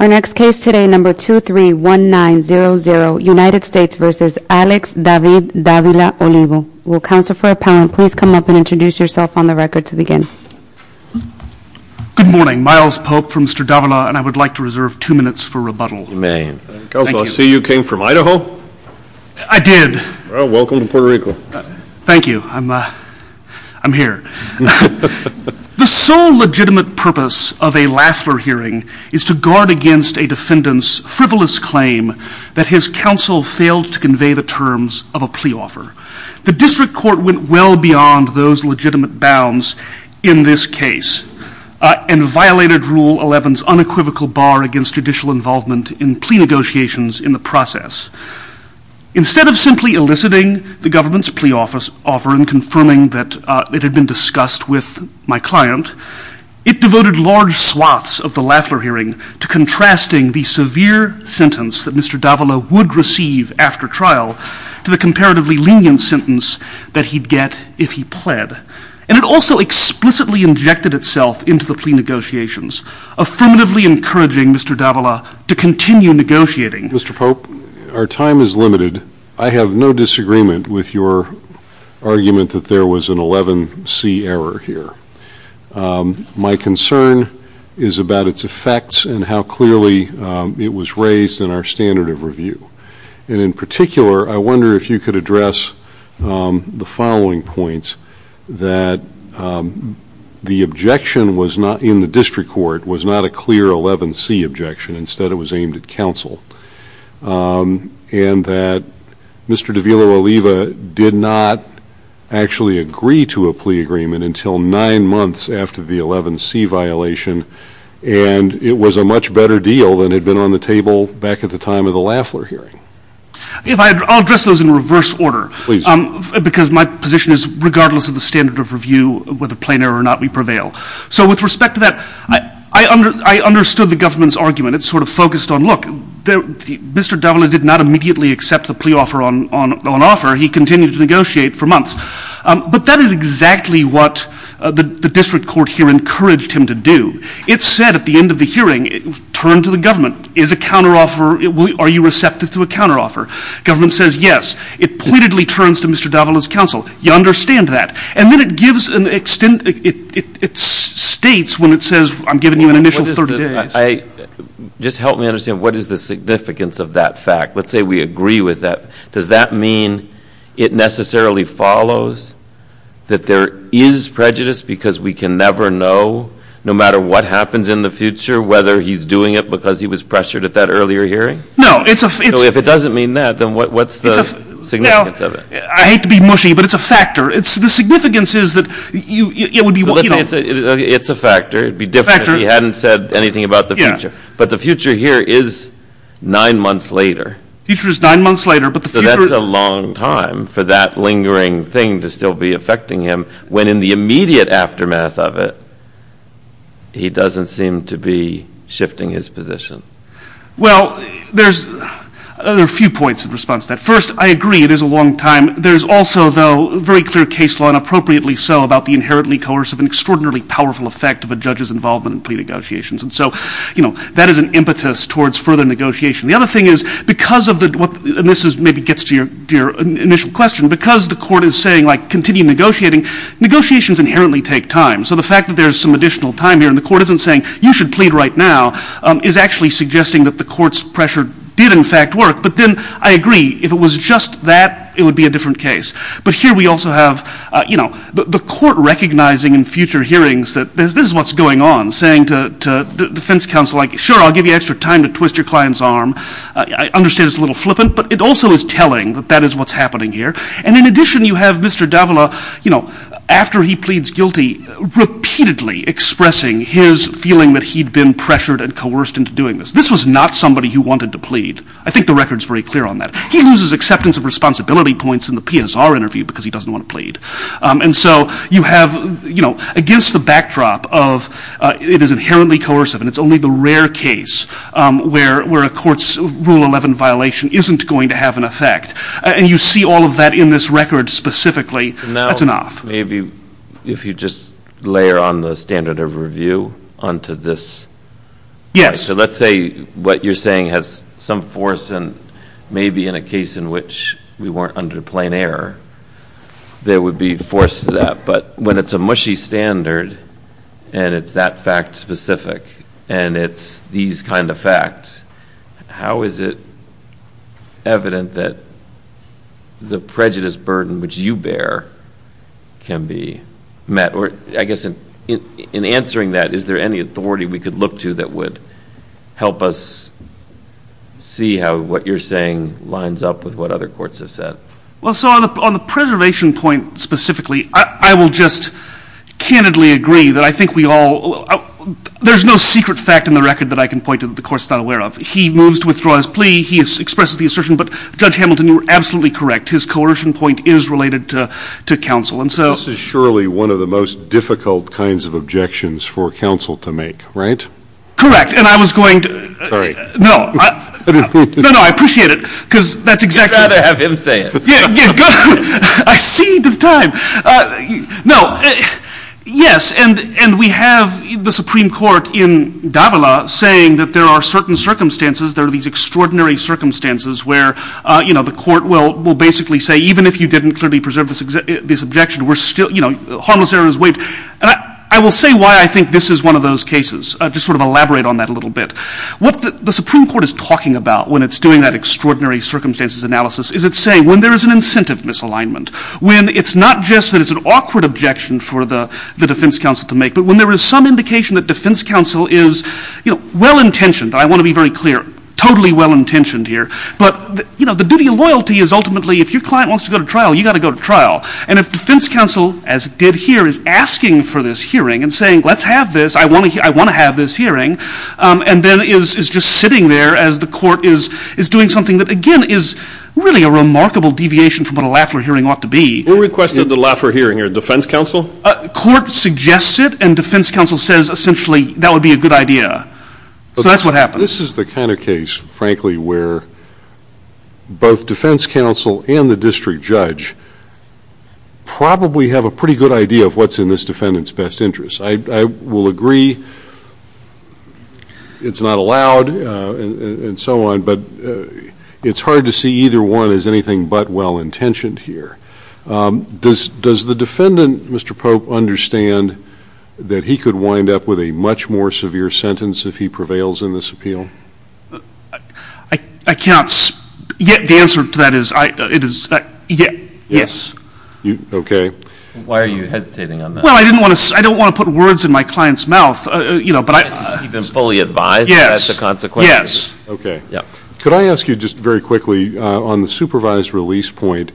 Our next case today, number 231900, United States v. Alex David Davila-Olivo. Will Counselor for Appellant please come up and introduce yourself on the record to begin. Good morning, Miles Pope from Mr. Davila and I would like to reserve two minutes for rebuttal. You may. Counselor, I see you came from Idaho? I did. Well, welcome to Puerto Rico. Thank you. I'm here. The sole legitimate purpose of a Lafler hearing is to guard against a defendant's frivolous claim that his counsel failed to convey the terms of a plea offer. The district court went well beyond those legitimate bounds in this case and violated Rule 11's unequivocal bar against judicial involvement in plea negotiations in the process. Instead of simply eliciting the government's plea offer and confirming that it had been discussed with my client, it devoted large swaths of the Lafler hearing to contrasting the severe sentence that Mr. Davila would receive after trial to the comparatively lenient sentence that he'd get if he pled. And it also explicitly injected itself into the plea negotiations, affirmatively encouraging Mr. Davila to continue negotiating. Mr. Pope, our time is limited. I have no disagreement with your argument that there was an 11C error here. My concern is about its effects and how clearly it was raised in our standard of review. And in particular, I wonder if you could address the following points that the objection in the district court was not a clear 11C objection, instead it was aimed at counsel. And that Mr. Davila Oliva did not actually agree to a plea agreement until nine months after the 11C violation and it was a much better deal than had been on the table back at the time of the Lafler hearing. I'll address those in reverse order. Because my position is regardless of the standard of review, whether plain error or not, we prevail. So with respect to that, I understood the government's argument. It sort of focused on, look, Mr. Davila did not immediately accept the plea offer on offer. He continued to negotiate for months. But that is exactly what the district court here encouraged him to do. It said at the end of the hearing, turn to the government. Is a counteroffer, are you receptive to a counteroffer? Government says yes. It pointedly turns to Mr. Davila's counsel. You understand that. And then it gives an extent, it states when it says I'm giving you an initial 30 days. Just help me understand, what is the significance of that fact? Let's say we agree with that. Does that mean it necessarily follows that there is prejudice because we can never know, no matter what happens in the future, whether he's doing it because he was pressured at that earlier hearing? No. So if it doesn't mean that, then what's the significance of it? I hate to be mushy, but it's a factor. The significance is that you, it would be one, you know. It's a factor. It'd be different if he hadn't said anything about the future. But the future here is nine months later. The future is nine months later, but the future... So that's a long time for that lingering thing to still be affecting him, when in the immediate aftermath of it, he doesn't seem to be shifting his position. Well, there's a few points in response to that. First, I agree it is a long time. There's also, though, very clear case law, and appropriately so, about the inherently coercive and extraordinarily powerful effect of a judge's involvement in plea negotiations. And so, you know, that is an impetus towards further negotiation. The other thing is, because of the, and this maybe gets to your initial question, because the court is saying, like, continue negotiating, negotiations inherently take time. So the fact that there's some additional time here and the court isn't saying, you should plead right now, is actually suggesting that the court's pressure did in fact work. But then, I agree, if it was just that, it would be a different case. But here we also have, you know, the court recognizing in future hearings that this is what's going on, saying to defense counsel, like, sure, I'll give you extra time to twist your client's arm. I understand it's a little flippant, but it also is telling that that is what's happening here. And in addition, you have Mr. Davila, you know, after he pleads guilty, repeatedly expressing his feeling that he'd been pressured and coerced into doing this. This was not somebody who wanted to plead. I think the record's very clear on that. He loses acceptance of responsibility points in the PSR interview because he doesn't want to plead. And so, you have, you know, against the backdrop of, it is inherently coercive and it's only the rare case where a court's Rule 11 violation isn't going to have an effect, and you see all of that in this record specifically, that's enough. Now, maybe, if you just layer on the standard of review onto this. Yes. Okay. So let's say what you're saying has some force and maybe in a case in which we weren't under plain error, there would be force to that. But when it's a mushy standard, and it's that fact specific, and it's these kind of facts, how is it evident that the prejudice burden which you bear can be met? Or, I guess, in answering that, is there any authority we could look to that would help us see how what you're saying lines up with what other courts have said? Well, so on the preservation point specifically, I will just candidly agree that I think we all, there's no secret fact in the record that I can point to that the court's not aware of. He moves to withdraw his plea. He expresses the assertion. But Judge Hamilton, you were absolutely correct. His coercion point is related to counsel. This is surely one of the most difficult kinds of objections for counsel to make, right? Correct. And I was going to... Sorry. No. No, no. I appreciate it. Because that's exactly... You'd rather have him say it. Yeah. Good. I see the time. No. Yes. And we have the Supreme Court in Davila saying that there are certain circumstances, there are these extraordinary circumstances where the court will basically say, even if you didn't clearly preserve this objection, we're still, you know, harmless errors waived. I will say why I think this is one of those cases, just sort of elaborate on that a little bit. What the Supreme Court is talking about when it's doing that extraordinary circumstances analysis is it's saying, when there is an incentive misalignment, when it's not just that it's an awkward objection for the defense counsel to make, but when there is some indication that defense counsel is, you know, well-intentioned, I want to be very clear, totally well-intentioned here. But, you know, the duty and loyalty is ultimately, if your client wants to go to trial, you've got to go to trial. And if defense counsel, as it did here, is asking for this hearing and saying, let's have this, I want to have this hearing, and then is just sitting there as the court is doing something that, again, is really a remarkable deviation from what a Lafler hearing ought to be. Who requested the Lafler hearing here? Defense counsel? Court suggests it, and defense counsel says, essentially, that would be a good idea. So that's what happened. This is the kind of case, frankly, where both defense counsel and the district judge probably have a pretty good idea of what's in this defendant's best interest. I will agree, it's not allowed, and so on, but it's hard to see either one as anything but well-intentioned here. Does the defendant, Mr. Pope, understand that he could wind up with a much more severe sentence if he prevails in this appeal? I cannot, the answer to that is, yes. Okay. Why are you hesitating on that? Well, I didn't want to, I don't want to put words in my client's mouth, you know, but I... He's been fully advised that that's a consequence. Yes. Okay. Could I ask you, just very quickly, on the supervised release point,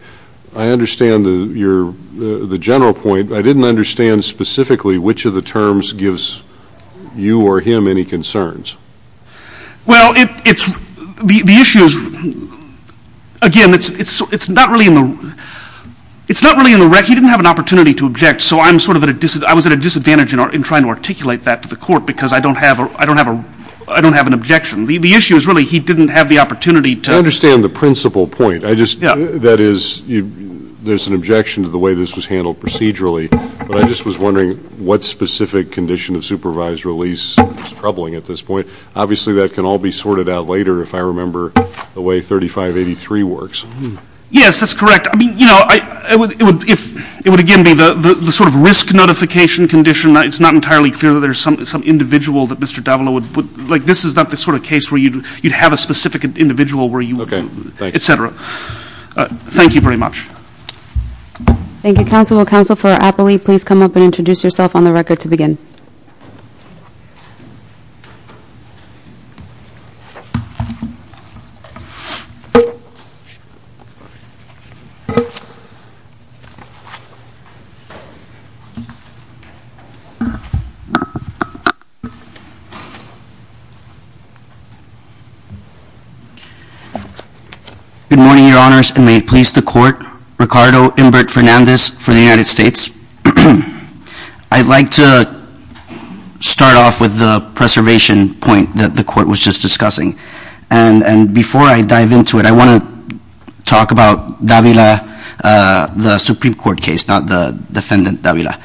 I understand your, the general point, but I didn't understand specifically which of the terms gives you or him any concerns. Well, it's, the issue is, again, it's not really in the, it's not really in the rec, he didn't have an opportunity to object, so I'm sort of at a, I was at a disadvantage in trying to articulate that to the court because I don't have, I don't have an objection. The issue is really he didn't have the opportunity to... I understand the principal point, I just, that is, there's an objection to the way this was handled procedurally, but I just was wondering what specific condition of supervised release is troubling at this point. Obviously, that can all be sorted out later, if I remember the way 3583 works. Yes, that's correct. I mean, you know, I, it would, if, it would, again, be the sort of risk notification condition, it's not entirely clear that there's some individual that Mr. Davila would, like, this is not the sort of case where you'd have a specific individual where you... Thank you. Et cetera. Thank you very much. Thank you, counsel. Council for Appley, please come up and introduce yourself on the record to begin. Good morning, your honors, and may it please the court. Ricardo Inbert Fernandez for the United States. I'd like to start off with the preservation point that the court was just discussing. And before I dive into it, I want to talk about Davila, the Supreme Court case, not the defendant Davila.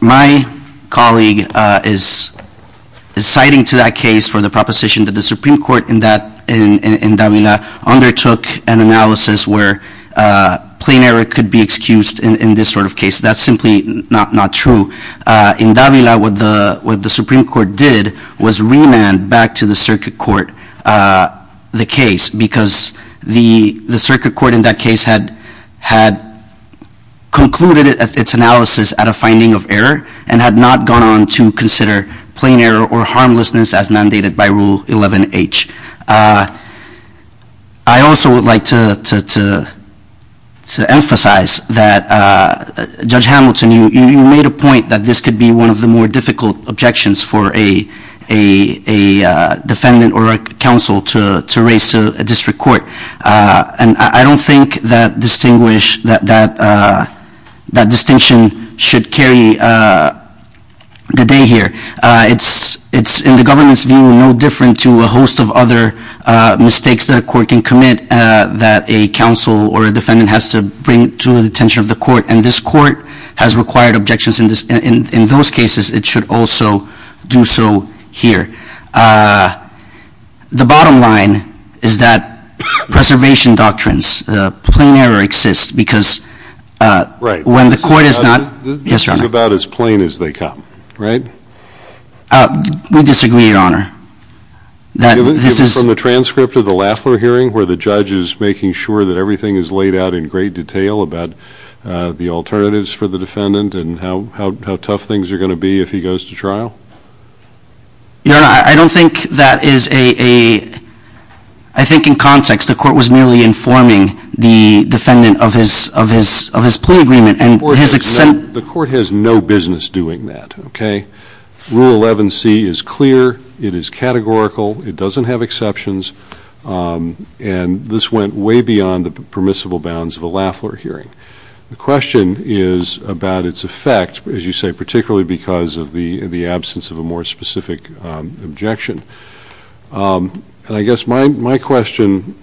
My colleague is citing to that case for the proposition that the Supreme Court in that, in Davila, undertook an analysis where plain error could be excused in this sort of case. That's simply not true. In Davila, what the Supreme Court did was remand back to the circuit court the case because the circuit court in that case had concluded its analysis at a finding of error and had not gone on to consider plain error or harmlessness as mandated by Rule 11H. I also would like to emphasize that Judge Hamilton, you made a point that this could be one of the more difficult objections for a defendant or a counsel to raise to a district court. And I don't think that distinguish, that distinction should carry the day here. It's in the government's view no different to a host of other mistakes that a court can commit that a counsel or a defendant has to bring to the attention of the court. And this court has required objections in those cases. It should also do so here. The bottom line is that preservation doctrines, plain error exists because when the court is not... Yes, Your Honor. This is about as plain as they come. Right? We disagree, Your Honor. Given from the transcript of the Lafler hearing where the judge is making sure that everything is laid out in great detail about the alternatives for the defendant and how tough things are going to be if he goes to trial? Your Honor, I don't think that is a... I think in context the court was merely informing the defendant of his plea agreement and his exception... The court has no business doing that, okay? Rule 11C is clear, it is categorical, it doesn't have exceptions, and this went way beyond the permissible bounds of a Lafler hearing. The question is about its effect, as you say, particularly because of the absence of a more specific objection. And I guess my question,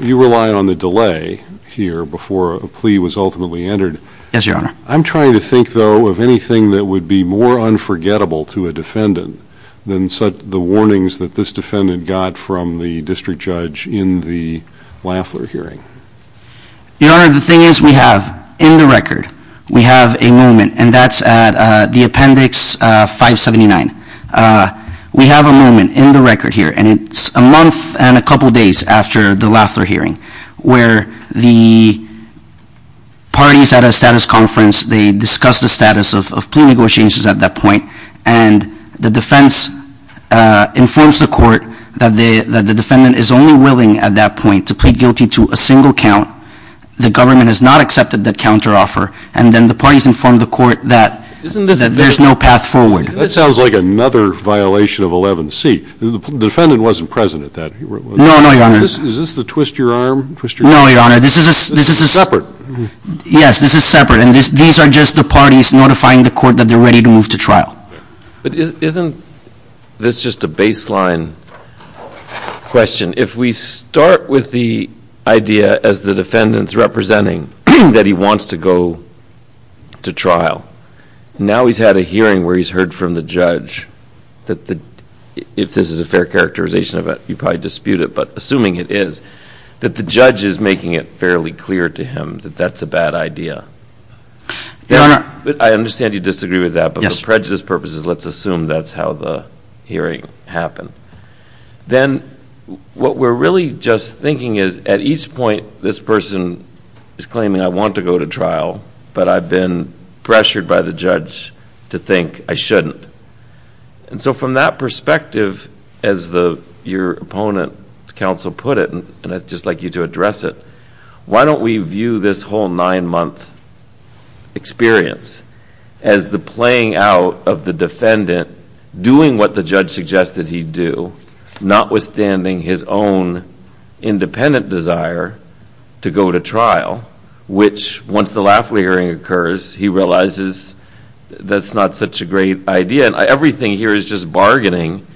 you rely on the delay here before a plea was ultimately entered. Yes, Your Honor. I'm trying to think, though, of anything that would be more unforgettable to a defendant than the warnings that this defendant got from the district judge in the Lafler hearing. Your Honor, the thing is we have, in the record, we have a moment, and that's at the Appendix 579. We have a moment in the record here, and it's a month and a couple days after the Lafler hearing where the parties at a status conference, they discuss the status of plea negotiations at that point, and the defense informs the court that the defendant is only willing at that point to plead guilty to a single count. The government has not accepted that counteroffer. And then the parties inform the court that there's no path forward. That sounds like another violation of 11C. The defendant wasn't present at that. No, no, Your Honor. Is this the twist your arm? No, Your Honor. This is a separate. Yes, this is separate, and these are just the parties notifying the court that they're ready to move to trial. But isn't this just a baseline question? If we start with the idea, as the defendant's representing, that he wants to go to trial, now he's had a hearing where he's heard from the judge that the, if this is a fair characterization of it, you probably dispute it, but assuming it is, that the judge is making it fairly clear to him that that's a bad idea. I understand you disagree with that, but for prejudice purposes, let's assume that's how the hearing happened. Then what we're really just thinking is, at each point, this person is claiming, I want to go to trial, but I've been pressured by the judge to think I shouldn't. And so from that perspective, as your opponent, counsel, put it, and I'd just like you to address it, why don't we view this whole nine-month experience as the playing out of the defendant doing what the judge suggested he do, notwithstanding his own independent desire to go to trial, which once the Lafley hearing occurs, he realizes that's not such a great idea. And everything here is just bargaining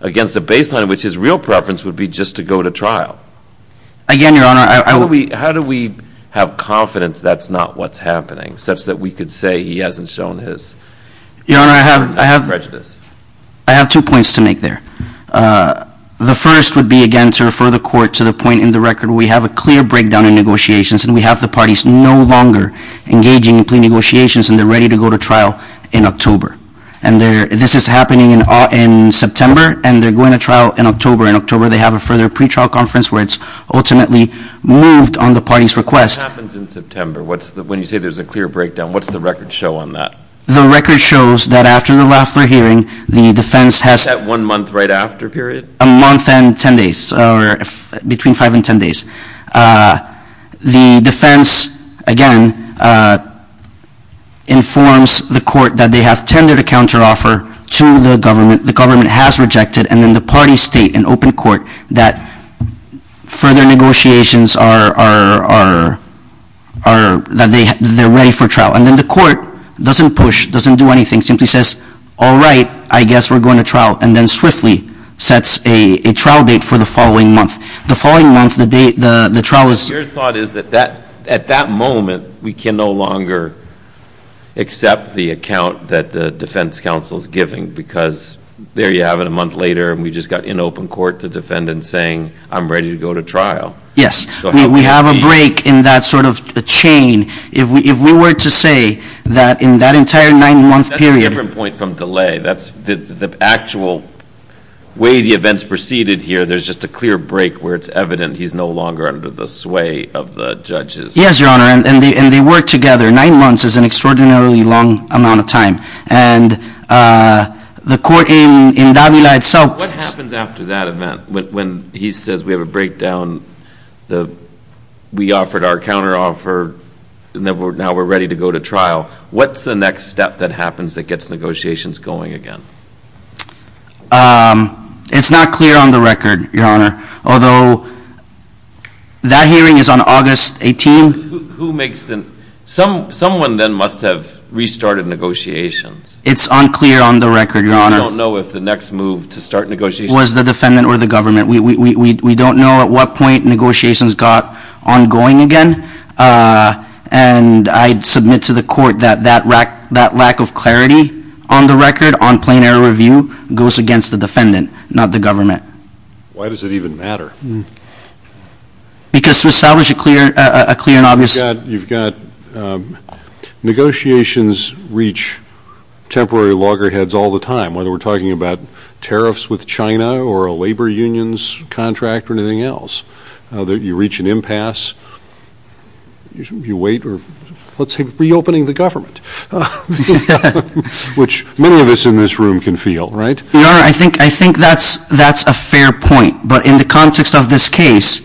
against a baseline, which his real preference would be just to go to trial. Again, Your Honor, I would be... How do we have confidence that's not what's happening, such that we could say he hasn't shown his... Your Honor, I have two points to make there. The first would be, again, to refer the Court to the point in the record where we have a clear breakdown in negotiations, and we have the parties no longer engaging in plea negotiations, and they're ready to go to trial in October. And this is happening in September, and they're going to trial in October. In October, they have a further pretrial conference where it's ultimately moved on the party's request. What happens in September? When you say there's a clear breakdown, what's the record show on that? The record shows that after the Lafley hearing, the defense has... Is that one month right after, period? A month and 10 days, or between 5 and 10 days. The defense, again, informs the Court that they have tendered a counteroffer to the government. The government has rejected, and then the parties state in open court that further negotiations are... That they're ready for trial. And then the Court doesn't push, doesn't do anything, simply says, all right, I guess we're going to trial, and then swiftly sets a trial date for the following month. The following month, the trial is... Your thought is that at that moment, we can no longer accept the account that the defense counsel's giving, because there you have it, a month later, and we just got in open court to defend and saying, I'm ready to go to trial. Yes. We have a break in that sort of chain. If we were to say that in that entire nine month period... That's a different point from delay. That's the actual way the events proceeded here. There's just a clear break where it's evident he's no longer under the sway of the judges. Yes, Your Honor. And they work together. Nine months is an extraordinarily long amount of time, and the court in Davila itself... What happens after that event, when he says we have a breakdown? When we offered our counteroffer, and now we're ready to go to trial, what's the next step that happens that gets negotiations going again? It's not clear on the record, Your Honor, although that hearing is on August 18th. Who makes the... Someone then must have restarted negotiations. It's unclear on the record, Your Honor. We don't know if the next move to start negotiations... Was the defendant or the government. We don't know at what point negotiations got ongoing again. And I'd submit to the court that that lack of clarity on the record on plain error review goes against the defendant, not the government. Why does it even matter? Because to establish a clear and obvious... You've got... Negotiations reach temporary loggerheads all the time, whether we're talking about tariffs with China or a labor unions contract or anything else. You reach an impasse, you wait, or let's say reopening the government. Which many of us in this room can feel, right? Your Honor, I think that's a fair point. But in the context of this case,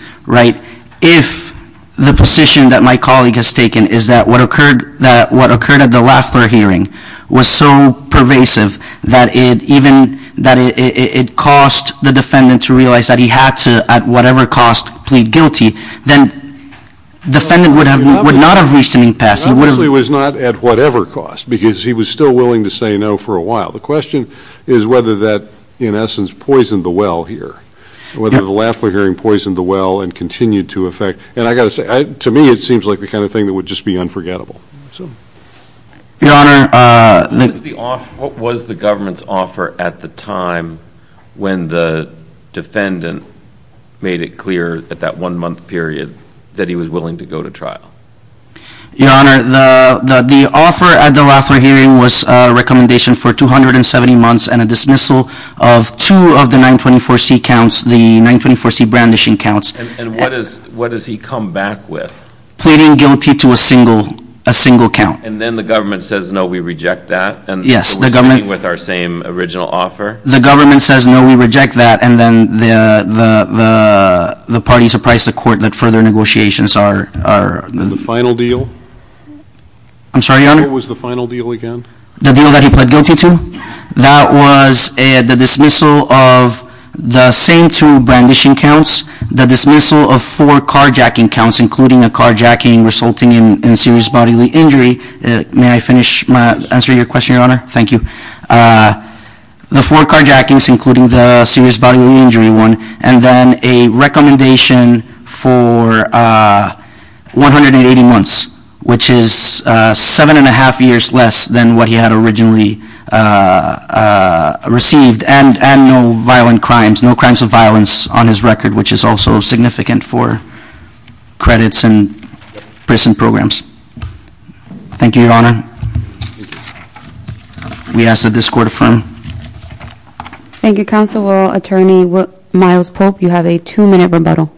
if the position that my colleague has taken is that what occurred at the Lafler hearing was so pervasive that it cost the defendant to realize that he had to, at whatever cost, plead guilty, then the defendant would not have reached an impasse. Obviously, it was not at whatever cost, because he was still willing to say no for a while. The question is whether that, in essence, poisoned the well here, whether the Lafler hearing poisoned the well and continued to affect... And I've got to say, to me, it seems like the kind of thing that would just be unforgettable. Your Honor... What was the government's offer at the time when the defendant made it clear at that one-month period that he was willing to go to trial? Your Honor, the offer at the Lafler hearing was a recommendation for 270 months and a dismissal of two of the 924C counts, the 924C brandishing counts. And what does he come back with? Pleading guilty to a single count. And then the government says, no, we reject that? Yes, the government... So we're staying with our same original offer? The government says, no, we reject that, and then the parties apprise the court that further negotiations are... The final deal? I'm sorry, Your Honor? What was the final deal again? The deal that he pled guilty to? That was the dismissal of the same two brandishing counts, the dismissal of four carjacking counts, including a carjacking resulting in serious bodily injury. May I finish my answer to your question, Your Honor? Thank you. The four carjackings, including the serious bodily injury one, and then a recommendation for 180 months, which is seven and a half years less than what he had originally received, and no violent crimes, no crimes of violence on his record, which is also significant for credits and prison programs. Thank you, Your Honor. We ask that this court affirm. Thank you, Counsel. Attorney Miles Pope, you have a two-minute rebuttal.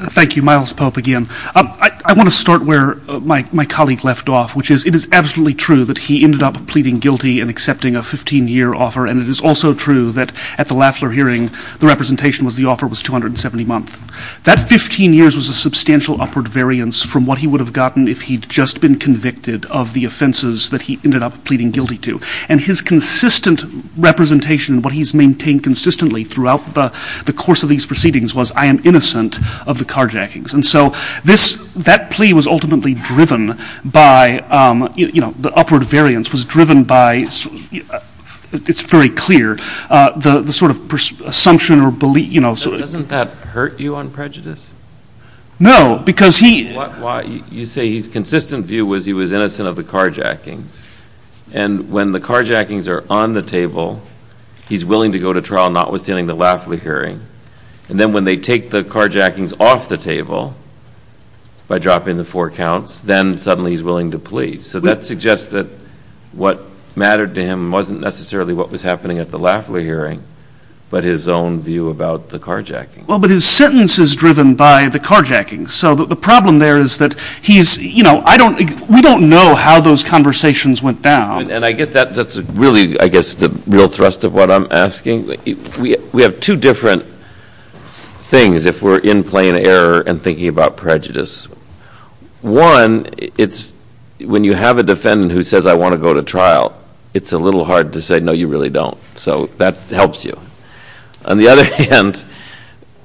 Thank you. Miles Pope again. I want to start where my colleague left off, which is it is absolutely true that he ended up pleading guilty and accepting a 15-year offer, and it is also true that at the Lafler hearing, the representation was the offer was 270 months. That 15 years was a substantial upward variance from what he would have gotten if he'd just been convicted of the offenses that he ended up pleading guilty to. And his consistent representation, what he's maintained consistently throughout the course of these proceedings was, I am innocent of the carjackings. And so that plea was ultimately driven by, you know, the upward variance was driven by, it's very clear, the sort of presumption or belief, you know, so... Doesn't that hurt you on prejudice? No, because he... You say his consistent view was he was innocent of the carjackings, and when the carjackings are on the table, he's willing to go to trial notwithstanding the Lafler hearing, and then when they take the carjackings off the table by dropping the four counts, then suddenly he's willing to plead. So that suggests that what mattered to him wasn't necessarily what was happening at the Lafler hearing, but his own view about the carjacking. Well, but his sentence is driven by the carjackings. So the problem there is that he's, you know, I don't, we don't know how those conversations went down. And I get that. That's really, I guess, the real thrust of what I'm asking. We have two different things if we're in plain error and thinking about prejudice. One, it's when you have a defendant who says, I want to go to trial, it's a little hard to say, no, you really don't. So that helps you. On the other hand,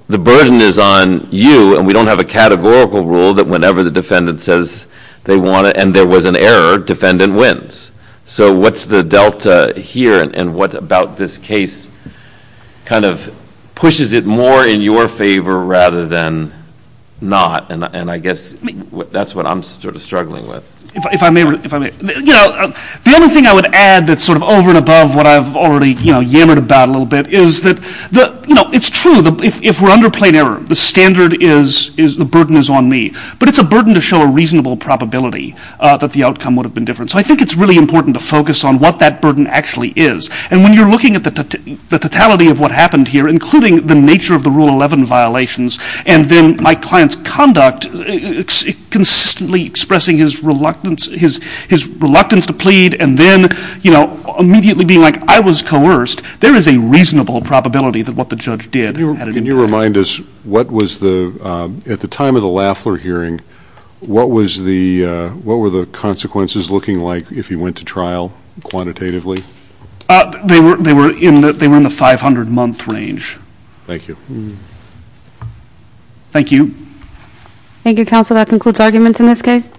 the burden is on you, and we don't have a categorical rule that whenever the defendant says they want to, and there was an error, defendant wins. So what's the delta here, and what about this case kind of pushes it more in your favor rather than not? And I guess that's what I'm sort of struggling with. If I may, you know, the only thing I would add that's sort of over and above what I've already, you know, yammered about a little bit is that, you know, it's true, if we're under plain error, the standard is, the burden is on me. But it's a burden to show a reasonable probability that the outcome would have been different. So I think it's really important to focus on what that burden actually is. And when you're looking at the totality of what happened here, including the nature of the Rule 11 violations, and then my client's conduct, consistently expressing his reluctance to plead, and then, you know, immediately being like, I was coerced, there is a reasonable probability that what the judge did had an impact. Can you remind us, what was the, at the time of the Lafler hearing, what was the, what were the consequences looking like if he went to trial, quantitatively? They were in the 500-month range. Thank you. Thank you. Thank you, counsel. That concludes arguments in this case.